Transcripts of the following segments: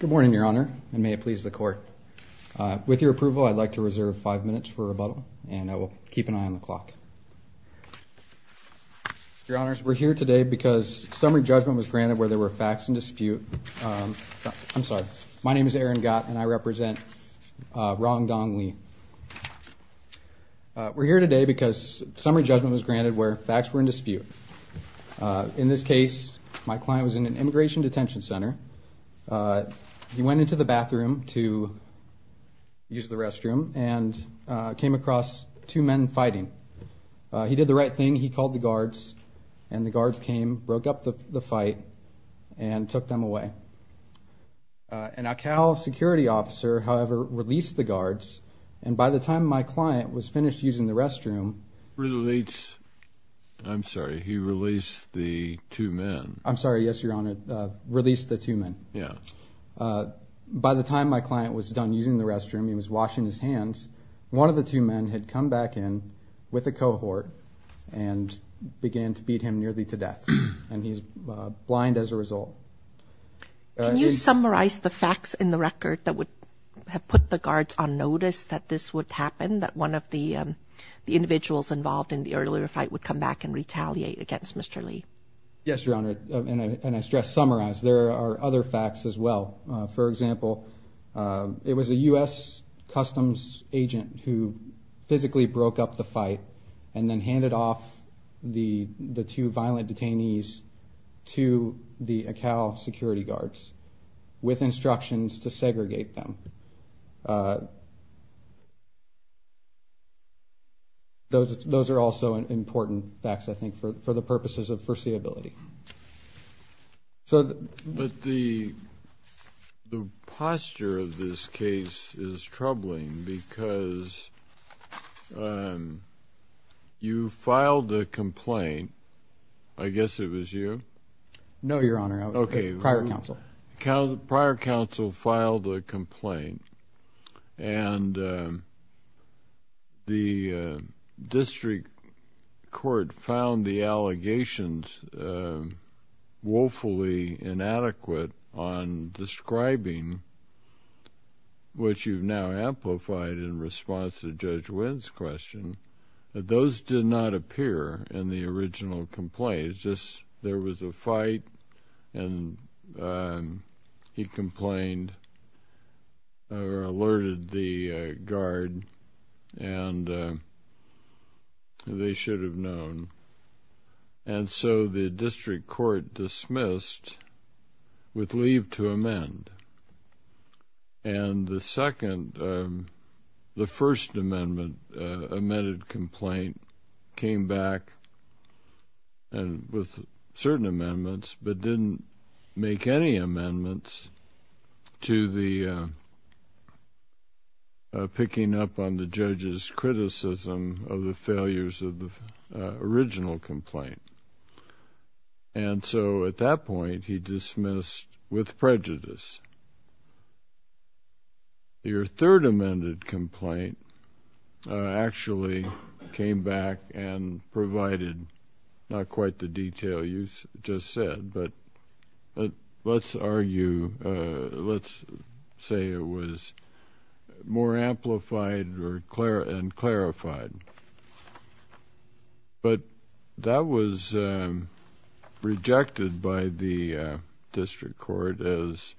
Good morning, Your Honor, and may it please the Court. With your approval, I'd like to reserve five minutes for rebuttal, and I will keep an eye on the clock. Your Honors, we're here today because summary judgment was granted where there were facts in dispute. I'm sorry, my name is Aaron Gott, and I represent Rong Dong Li. We're here today because summary judgment was granted where facts were in dispute. In this case, my client was in an immigration detention center. He went into the bathroom to use the restroom and came across two men fighting. He did the right thing. He called the guards, and the guards came, broke up the fight, and took them away. An Akal security officer, however, released the guards, and by the time my client was finished using the restroom... I'm sorry, he released the two men. I'm sorry, yes, Your Honor, released the two men. By the time my client was done using the restroom, he was washing his hands, one of the two men had come back in with a cohort and began to beat him nearly to death, and he's blind as a result. Can you summarize the facts in the record that would have put the guards on notice that this would happen, that one of the individuals involved in the earlier fight would come back and retaliate against Mr. Li? Yes, Your Honor, and I stress summarize. There are other facts as well. For example, it was a U.S. Customs agent who physically broke up the fight and then handed off the two violent detainees to the Akal security guards with instructions to segregate them. Those are also important facts, I think, for the purposes of foreseeability. But the posture of this case is troubling because you filed a complaint, I guess it was you? No, Your Honor, prior counsel. Okay, prior counsel filed a complaint, and the district court found the allegations woefully inadequate on describing what you've now amplified in response to Judge Wynn's question. Those did not appear in the original complaint, just there was a fight, and he complained or alerted the guard, and they should have known. And so the district court dismissed with leave to amend. And the second, the first amendment, amended complaint came back and with certain amendments, but didn't make any amendments to the picking up on the judge's at that point, he dismissed with prejudice. Your third amended complaint actually came back and provided not quite the detail you just said, but let's argue, let's say it was more amplified and clarified. But that was rejected by the district court as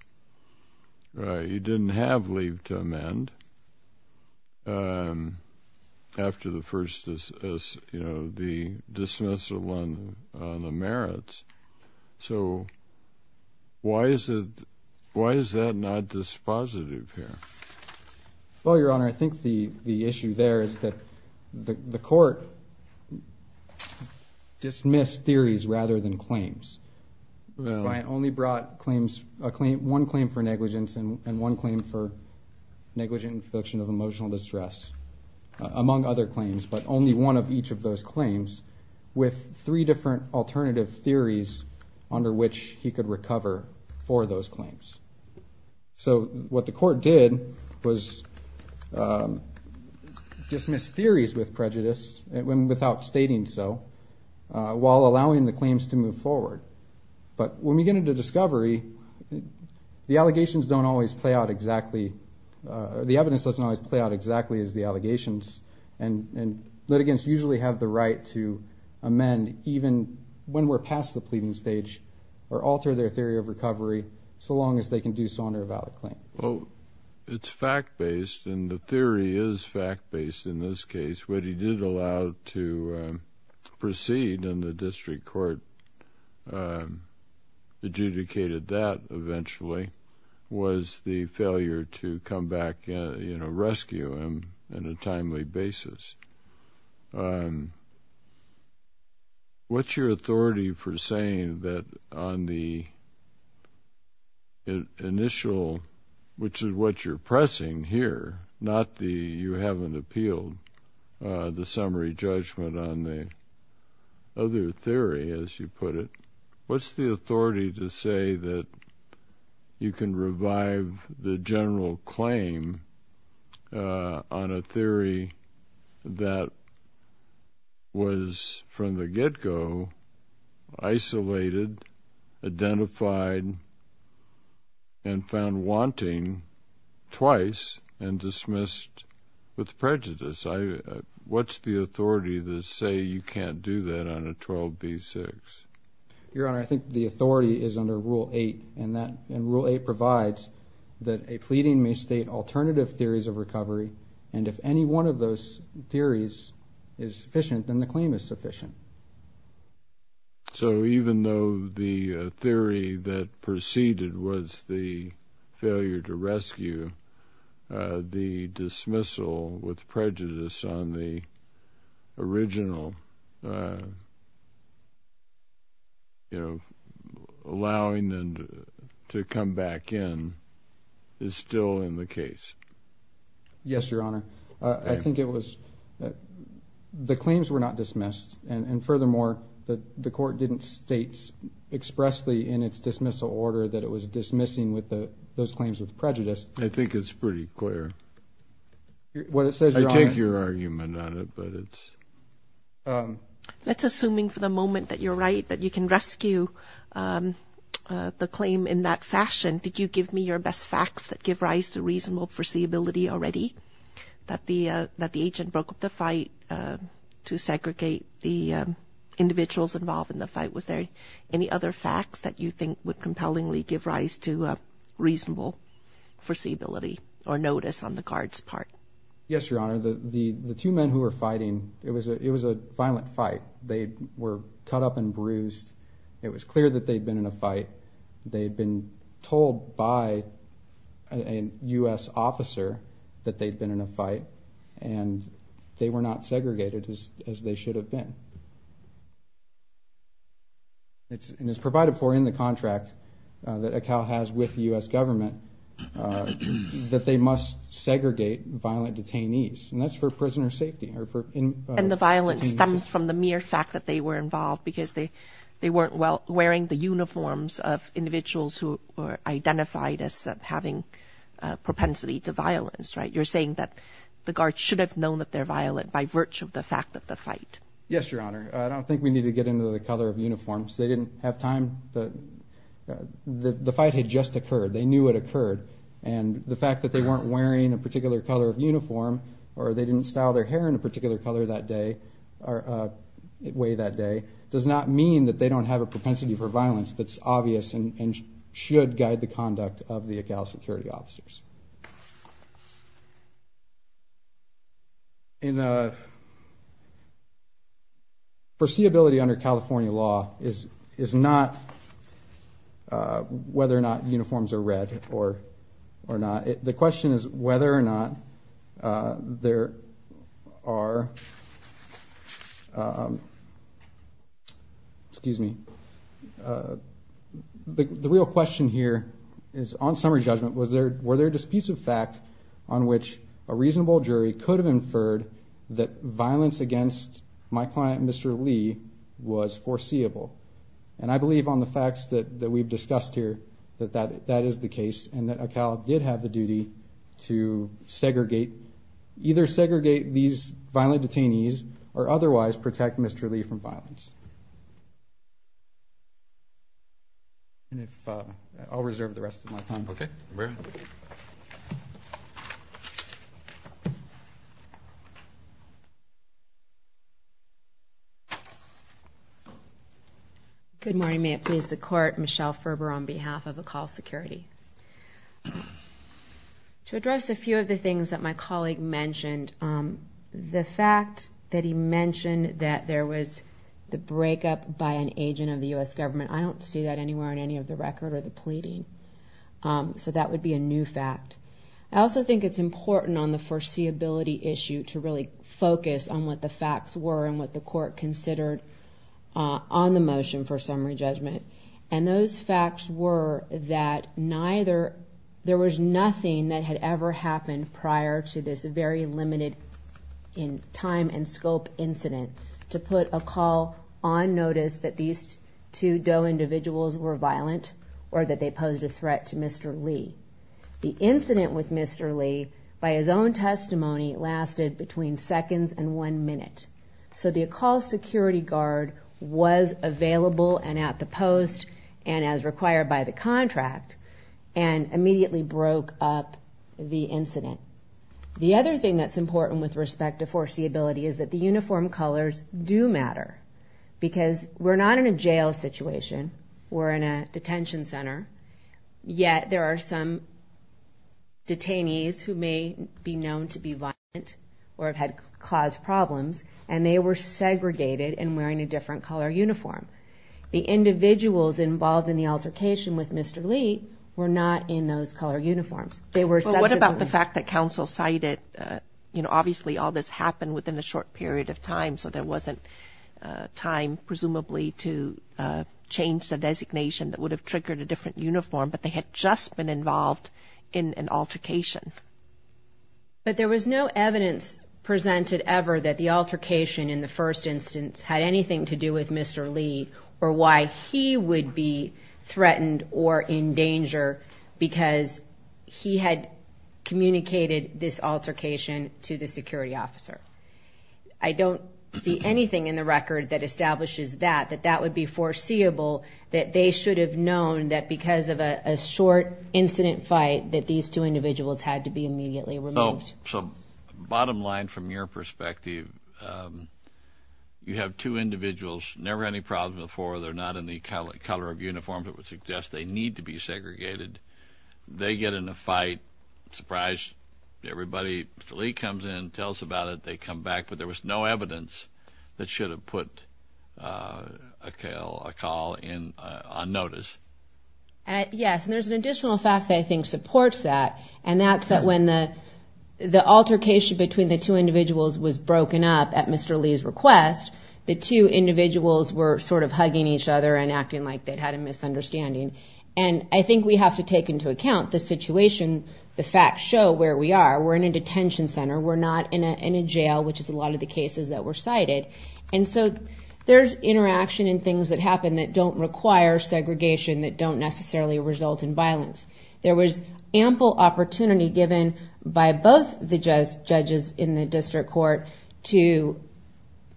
you didn't have leave to amend after the first dismissal on the merits. So why is that not dispositive here? Well, Your Honor, I think the issue there is that the court dismissed theories rather than claims. I only brought claims, one claim for negligence and one claim for negligent infliction of emotional distress among other claims, but only one of each of those claims with three different alternative theories under which he could recover for those claims. So what the court did was dismiss theories with prejudice without stating so, while allowing the claims to move forward. But when we get into discovery, the allegations don't always play out exactly, the evidence doesn't always play out exactly as the allegations, and litigants usually have the the pleading stage or alter their theory of recovery so long as they can do so under a valid claim. Well, it's fact-based, and the theory is fact-based in this case. What he did allow to proceed, and the district court adjudicated that eventually, was the failure to come back, you know, rescue him on a timely basis. What's your authority for saying that on the initial, which is what you're pressing here, not the, you haven't appealed the summary judgment on the other theory, as you put it, what's the authority to say that you can revive the general claim on a theory that was, from the get-go, isolated, identified, and found wanting twice, and dismissed with prejudice? What's the authority to say you can't do that on a 12b6? Your Honor, I think the authority is under Rule 8, and that, and Rule 8 provides that a pleading may state alternative theories of recovery, and if any one of those theories is sufficient, then the claim is sufficient. So even though the theory that proceeded was the failure to rescue, the dismissal with prejudice on the original, you know, allowing them to come back in, is still in the case. Yes, Your Honor. I think it was, the claims were not dismissed, and furthermore, the court didn't state expressly in its dismissal order that it was dismissing with the, those claims with prejudice. I think it's pretty clear. What it says, Your Honor. I take your argument on it, but it's. Let's, assuming for the moment that you're right, that you can rescue the claim in that fashion, did you give me your best facts that give rise to reasonable foreseeability already? That the, that the agent broke up the fight to segregate the claim, and did you willingly give rise to a reasonable foreseeability or notice on the card's part? Yes, Your Honor. The, the, the two men who were fighting, it was a, it was a violent fight. They were cut up and bruised. It was clear that they'd been in a fight. They'd been told by a U.S. officer that they'd been in a fight, and they were not segregated as, as they should have been. It's, and it's provided for in the contract that ACAL has with the U.S. government that they must segregate violent detainees, and that's for prisoner safety or for. And the violence stems from the mere fact that they were involved because they, they weren't well, wearing the uniforms of individuals who were identified as having propensity to violence, right? You're saying that the guards should have known that they're violent by virtue of the fact of the fight? Yes, Your Honor. I don't think we need to get into the color of uniforms. They didn't have time. The, the fight had just occurred. They knew it occurred, and the fact that they weren't wearing a particular color of uniform, or they didn't style their hair in a particular color that day, or way that day, does not mean that they don't have a propensity for violence that's obvious and should guide the conduct of the ACAL security officers. In a, foreseeability under California law is, is not whether or not uniforms are red or, or not. The question is whether or not there are, excuse me, the real question here is, on summary disputes of fact on which a reasonable jury could have inferred that violence against my client, Mr. Lee, was foreseeable. And I believe on the facts that, that we've discussed here, that that, that is the case, and that ACAL did have the duty to segregate, either segregate these violent detainees, or otherwise protect Mr. Lee from violence. And if, I'll reserve the rest of my time. Okay, Mary. Good morning. May it please the court, Michelle Ferber on behalf of ACAL security. To address a few of the things that my colleague mentioned, the fact that he mentioned that there was the breakup by an agent of the U.S. government, I don't see that anywhere on any of the record, or the pleading. So that would be a new fact. I also think it's important on the foreseeability issue to really focus on what the facts were and what the court considered on the motion for summary judgment. And those facts were that neither, there was nothing that had ever happened prior to this very limited in time and scope incident to put ACAL on notice that these two DOE individuals were violent, or that they posed a threat to Mr. Lee. The incident with Mr. Lee, by his own testimony, lasted between seconds and one minute. So the ACAL security guard was available and at the post, and as required by the contract, and immediately broke up the incident. The other thing that's important with respect to foreseeability is that the uniform colors do matter. Because we're not in a jail situation, we're in a detention center, yet there are some detainees who may be known to be violent, or have had caused problems, and they were segregated and wearing a different color uniform. The individuals involved in the altercation with Mr. Lee were not in those color uniforms. They were... But what about the fact that counsel cited, you know, obviously all this happened within a short period of time, so there wasn't time, presumably, to change the designation that would have triggered a different uniform, but they had just been involved in an altercation. But there was no evidence presented ever that the altercation in the first instance had anything to do with Mr. Lee, or why he would be threatened or in danger because he had communicated this altercation to the security officer. I don't see anything in the record that establishes that, that that would be foreseeable, that they should have known that because of a short incident fight, that these two individuals had to be immediately removed. So bottom line, from your perspective, you have two individuals, never had any problems before, they're not in the color of uniform that would suggest they need to be segregated. They get in a fight, surprised, everybody, Mr. Lee comes in, tells about it, they come back, but there was no evidence that should have put a call in on notice. Yes, and there's an additional fact that I think supports that, and that's that when the altercation between the two individuals was broken up at Mr. Lee's request, the two individuals were sort of hugging each other and acting like they had a misunderstanding. And I think we have to take into account the situation, the facts show where we are, we're in a detention center, we're not in a jail, which is a lot of the cases that were cited. And so there's interaction and things that happen that don't require segregation, that don't necessarily result in violence. There was ample opportunity given by both the judges in the district court to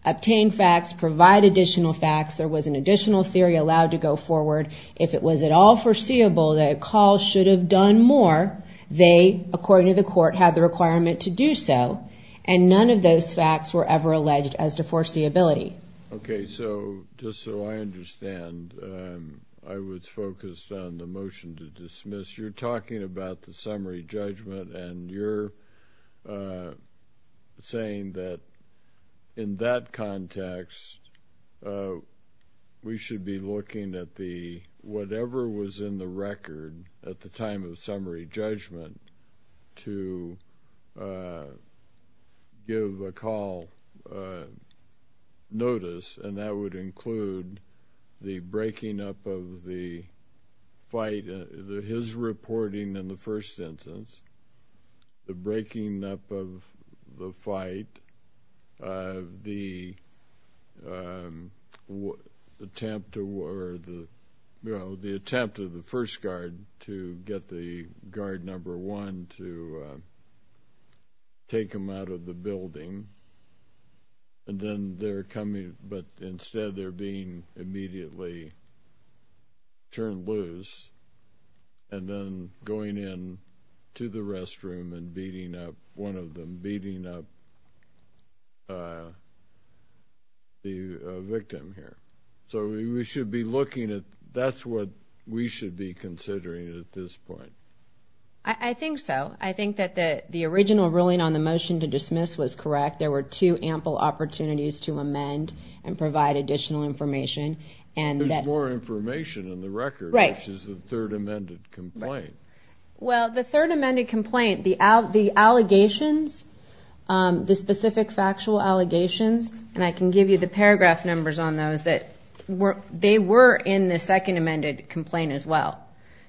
obtain facts, provide additional facts, there was an additional theory allowed to go forward. If it was at all foreseeable that a call should have done more, they, according to the court, had the requirement to do so. And none of those facts were ever alleged as to foreseeability. Okay, so just so I understand, I was focused on the motion to dismiss. You're talking about the summary judgment, and you're saying that in that context, we should be looking at the, whatever was in the record at the time of summary judgment, to give a call notice. And that would include the breaking up of the fight, his reporting in the first instance, the breaking up of the fight, the attempt to, or the, you know, the attempt of the first guard to get the guard number one to take him out of the building. And then they're coming, but instead they're being immediately turned loose, and then going in to the restroom and beating up one of them, beating up the victim here. So we should be looking at, that's what we should be considering at this point. I think so. I think that the original ruling on the motion to dismiss was correct. There were two ample opportunities to amend and provide additional information. And there's more information in the record, which is the third amended complaint. Well, the third amended complaint, the allegations, the specific factual allegations, and I can give you the paragraph numbers on those, that they were in the second amended complaint as well.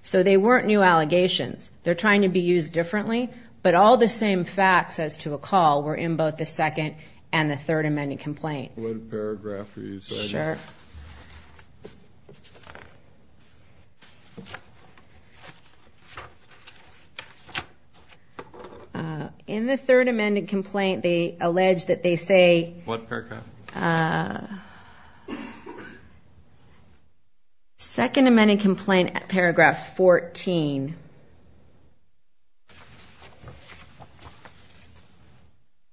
So they weren't new allegations. They're trying to be used differently, but all the same facts as to a call were in both the second and the third amended complaint. In the third amended complaint, they allege that they say... What paragraph? Second amended complaint, paragraph 14,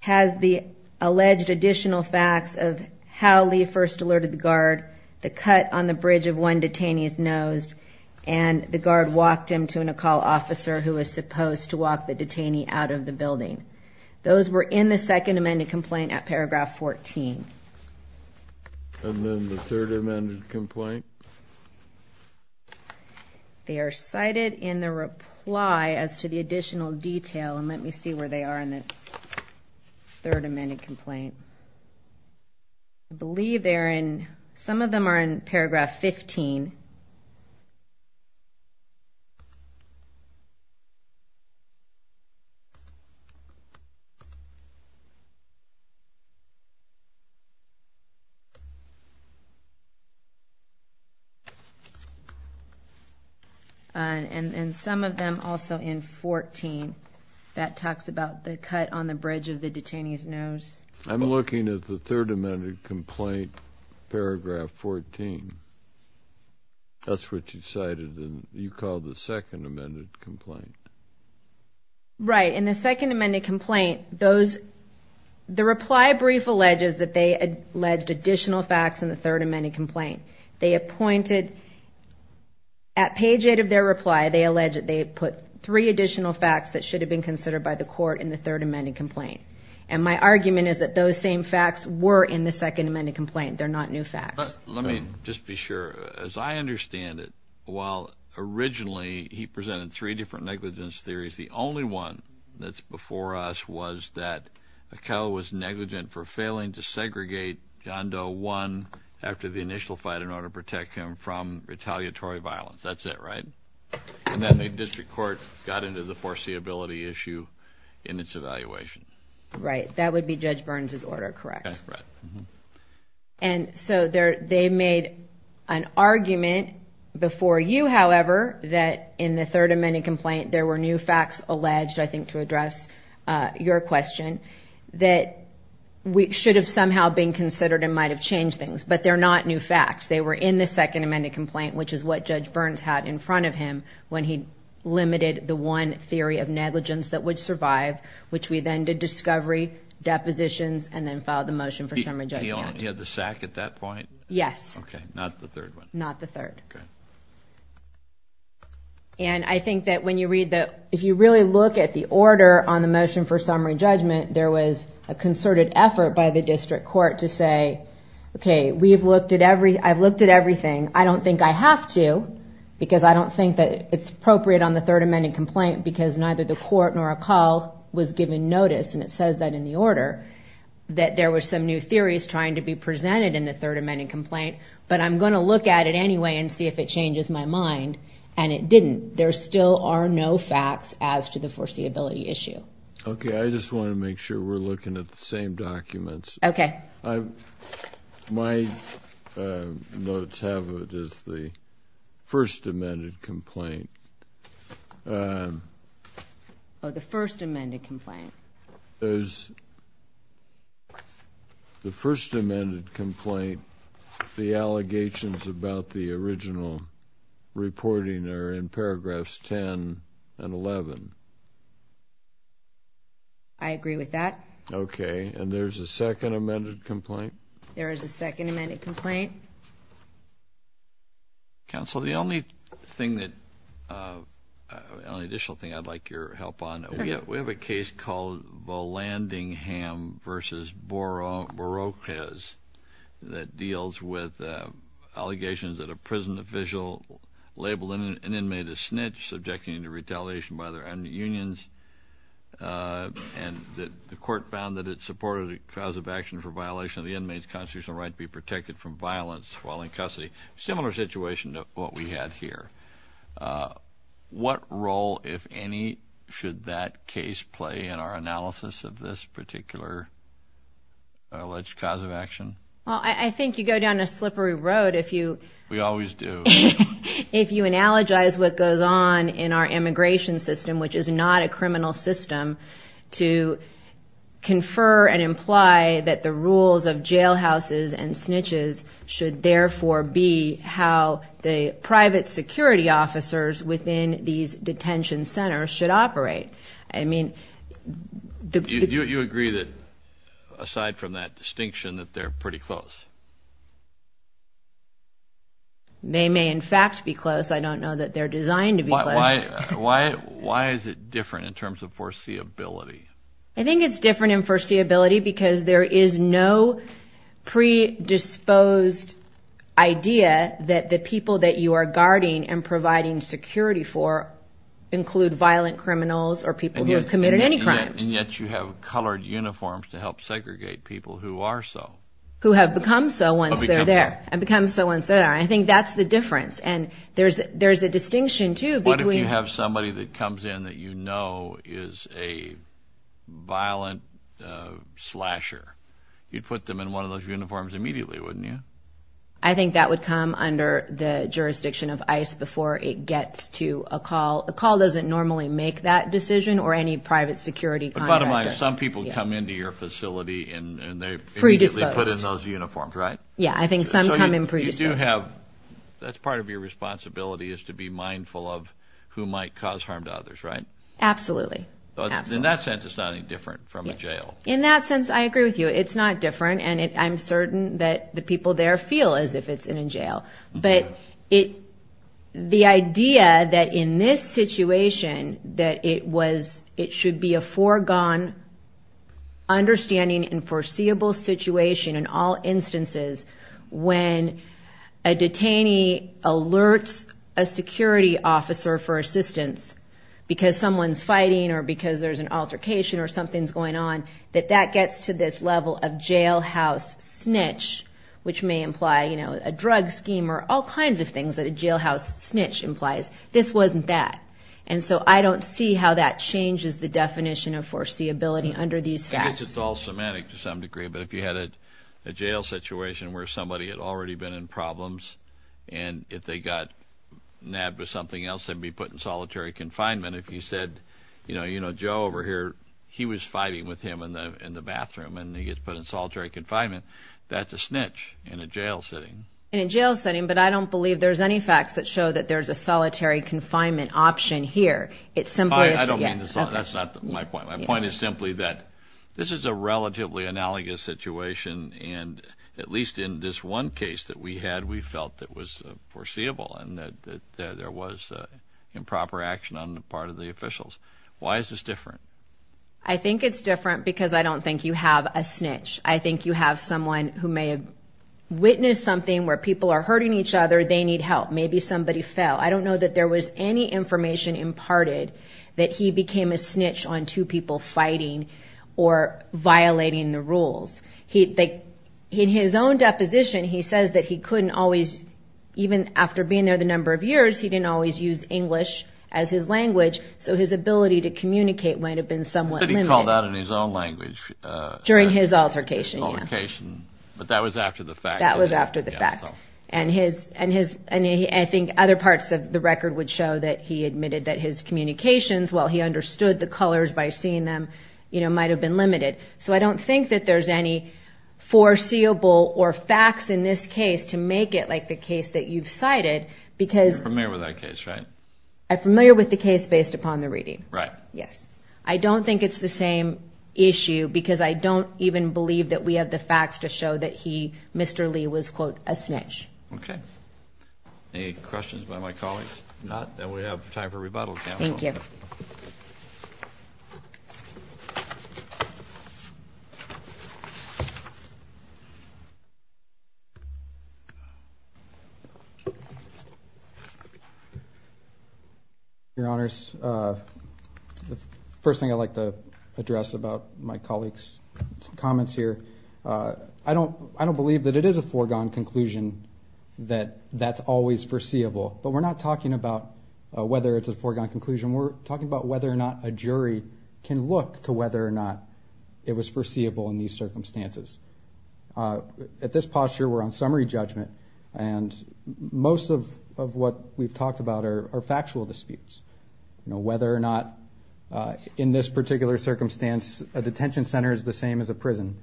has the alleged additional facts of how Lee first alerted the guard, the cut on the bridge when detainees nosed, and the guard walked him to a call officer who was supposed to walk the detainee out of the building. Those were in the second amended complaint at paragraph 14. And then the third amended complaint? They are cited in the reply as to the additional detail. And let me see where they are in the third amended complaint. I believe they're in... Some of them are in paragraph 15. And some of them also in 14. That talks about the cut on the bridge of the detainee's nose. I'm looking at the third amended complaint, paragraph 14. That's what you cited, and you called the second amended complaint. Right. In the second amended complaint, those... The reply brief alleges that they alleged additional facts in the third amended complaint. They appointed... At page eight of their reply, they allege that they put three additional facts that should have been considered by the court in the third amended complaint. And my argument is that those same facts were in the second amended complaint. They're not new facts. Let me just be sure. As I understand it, while originally he presented three different negligence theories, the only one that's before us was that Akella was negligent for failing to segregate John Doe one after the initial fight in order to protect him from retaliatory violence. That's it, and then the district court got into the foreseeability issue in its evaluation. Right. That would be Judge Burns's order, correct? That's correct. And so they made an argument before you, however, that in the third amended complaint, there were new facts alleged, I think to address your question, that should have somehow been considered and might have changed things, but they're not new facts. They were in the second amended complaint, which is what Judge when he limited the one theory of negligence that would survive, which we then did discovery, depositions, and then filed the motion for summary judgment. He had the sack at that point? Yes. Okay, not the third one. Not the third. And I think that when you read the, if you really look at the order on the motion for summary judgment, there was a concerted effort by the district court to say, okay, we've looked at every, I've looked at everything. I don't think I have to, because I don't think that it's appropriate on the third amended complaint because neither the court nor a call was given notice. And it says that in the order that there were some new theories trying to be presented in the third amended complaint, but I'm going to look at it anyway and see if it changes my mind. And it didn't. There still are no facts as to the foreseeability issue. Okay. I just want to make sure we're looking at the same documents. Okay. My notes have it as the first amended complaint. Oh, the first amended complaint. The first amended complaint, the allegations about the original reporting are in paragraphs 10 and 11. I agree with that. Okay. And there's a second amended complaint. There is a second amended complaint. Counsel, the only thing that, the only additional thing I'd like your help on, we have a case called Volandingham versus Borroquez that deals with allegations that a prison official labeled an inmate a snitch subjecting to retaliation by unions. And the court found that it supported a cause of action for violation of the inmate's constitutional right to be protected from violence while in custody. Similar situation to what we had here. What role, if any, should that case play in our analysis of this particular alleged cause of action? Well, I think you go down a slippery road if you... We always do. If you analogize what goes on in our immigration system, which is not a criminal system, to confer and imply that the rules of jailhouses and snitches should therefore be how the private security officers within these detention centers should operate. I mean... You agree that, aside from that distinction, that they're pretty close? They may, in fact, be close. I don't know that they're designed to be close. Why is it different in terms of foreseeability? I think it's different in foreseeability because there is no predisposed idea that the people that you are guarding and providing security for include violent criminals or people who have committed any crimes. And yet you have colored uniforms to help segregate people who are so. Who have become so once they're there. And become so once they're there. I think that's the difference. And there's a distinction too between... What if you have somebody that comes in that you know is a violent slasher? You'd put them in one of those uniforms immediately, wouldn't you? I think that would come under the jurisdiction of ICE before it gets to a call. A call doesn't normally make that decision or any security contractor. But bottom line, some people come into your facility and they immediately put in those uniforms, right? Yeah, I think some come in predisposed. That's part of your responsibility is to be mindful of who might cause harm to others, right? Absolutely. In that sense, it's not any different from a jail. In that sense, I agree with you. It's not different. And I'm certain that the people there feel as if it's in a jail. But the idea that in this situation, that it should be a foregone understanding and foreseeable situation in all instances, when a detainee alerts a security officer for assistance because someone's fighting or because there's an altercation or something's going on, that that gets to this level of jailhouse snitch, which may imply a drug scheme or all kinds of things that a jailhouse snitch implies. This wasn't that. And so I don't see how that changes the definition of foreseeability under these facts. It's all semantic to some degree. But if you had a jail situation where somebody had already been in problems and if they got nabbed with something else, they'd be put in solitary confinement. If you said, you know, Joe over here, he was fighting with him in the bathroom and he gets put in solitary confinement. That's a snitch in a jail setting. In a jail setting. But I don't believe there's any facts that show that there's a solitary confinement option here. It's simply. I don't mean that's not my point. My point is simply that this is a relatively analogous situation. And at least in this one case that we had, we felt that was foreseeable and that there was improper action on the part of the officials. Why is this different? I think it's different because I don't think you have a snitch. I think you have someone who may witness something where people are hurting each other. They need help. Maybe somebody fell. I don't know that there was any information imparted that he became a snitch on two people fighting or violating the rules. In his own deposition, he says that he couldn't always, even after being there the number of years, he didn't always use English as his language. So his ability to communicate might have been somewhat limited. I thought he called out in his own communication. But that was after the fact. That was after the fact. And I think other parts of the record would show that he admitted that his communications, while he understood the colors by seeing them, might've been limited. So I don't think that there's any foreseeable or facts in this case to make it like the case that you've cited because. You're familiar with that case, right? I'm familiar with the case based upon the reading. Right. Yes. I don't think it's the same issue because I don't even believe that we have the facts to show that he, Mr. Lee, was quote, a snitch. Okay. Any questions by my colleagues? If not, then we have time for rebuttal. Thank you. Thank you, Mr. Chairman. I just want to say something about my colleague's comments here. I don't believe that it is a foregone conclusion that that's always foreseeable, but we're not talking about whether it's a foregone conclusion. We're talking about whether or not a jury can look to whether or not it was foreseeable in these circumstances. At this posture, we're on summary judgment and most of what we've talked about are factual disputes. You know, whether or not in this particular circumstance, a detention center is the same as a prison,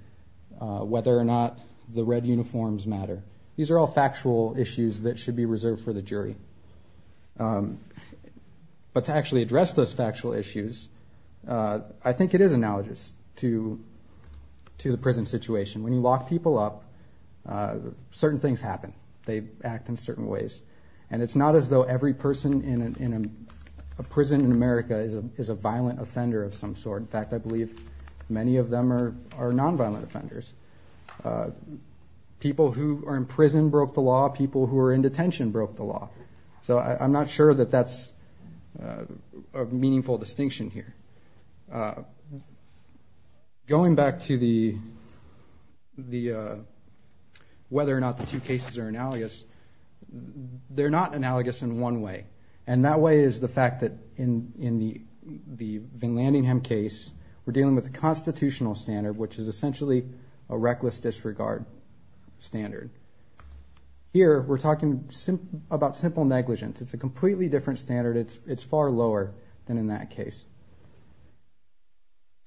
whether or not the red uniforms matter. These are all factual issues that should be reserved for the jury. But to actually address those factual issues, I think it is analogous to the prison situation. When you lock people up, certain things happen. They act in certain ways and it's not as though every person in a prison in America is a violent offender of some sort. In fact, I believe many of them are nonviolent offenders. People who are in prison broke the law, people who are in detention broke the law. So I'm not sure that that's a meaningful distinction here. But going back to whether or not the two cases are analogous, they're not analogous in one way. And that way is the fact that in the Van Landingham case, we're dealing with the constitutional standard, which is essentially a reckless disregard standard. Here, we're talking about simple negligence. It's a completely different standard. It's far lower than in that case.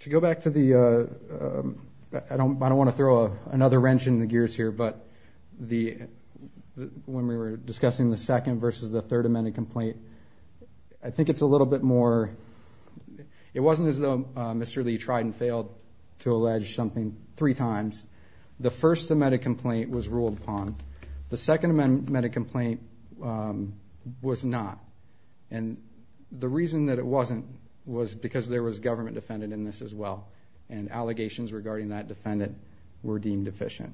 To go back to the, I don't want to throw another wrench in the gears here, but when we were discussing the second versus the third amended complaint, I think it's a little bit more, it wasn't as though Mr. Lee tried and failed to allege something three times. The first amended complaint was ruled upon. The second amended complaint was not. And the reason that it wasn't was because there was government defendant in this as well. And allegations regarding that defendant were deemed deficient.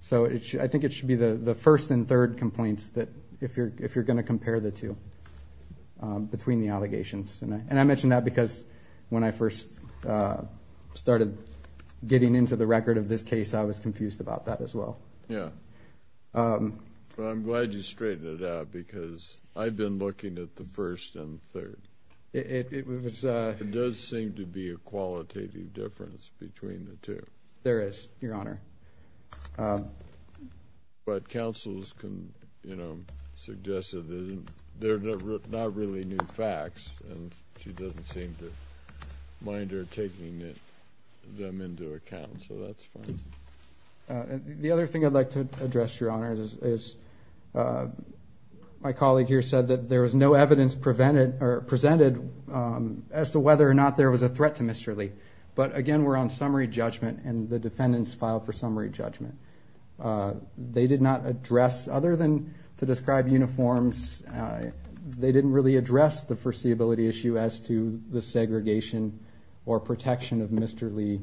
So I think it should be the first and third complaints that if you're going to compare the two between the allegations. And I mention that because when I first started getting into the record of this case, I was confused about that as well. Yeah. I'm glad you straightened it out because I've been looking at the first and third. It does seem to be a qualitative difference between the two. There is, Your Honor. But counsels can suggest that they're not really new facts and she doesn't seem to mind her taking them into account. So that's fine. The other thing I'd like to address, Your Honor, is my colleague here said that there was no evidence presented as to whether or not there was a threat to Mr. Lee. But again, we're on summary judgment and the defendants filed for summary judgment. They did not address, other than to describe uniforms, they didn't really address the foreseeability issue as to the segregation or protection of Mr. Lee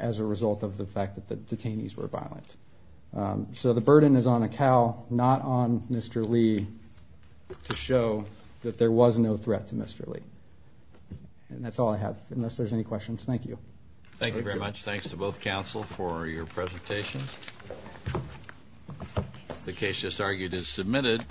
as a result of the fact that the detainees were violent. So the burden is on Acal, not on Mr. Lee, to show that there was no threat to Mr. Lee. And that's all I have, unless there's any questions. Thank you. Thank you very much. Thanks to both counsel for your presentation. The case just argued is submitted.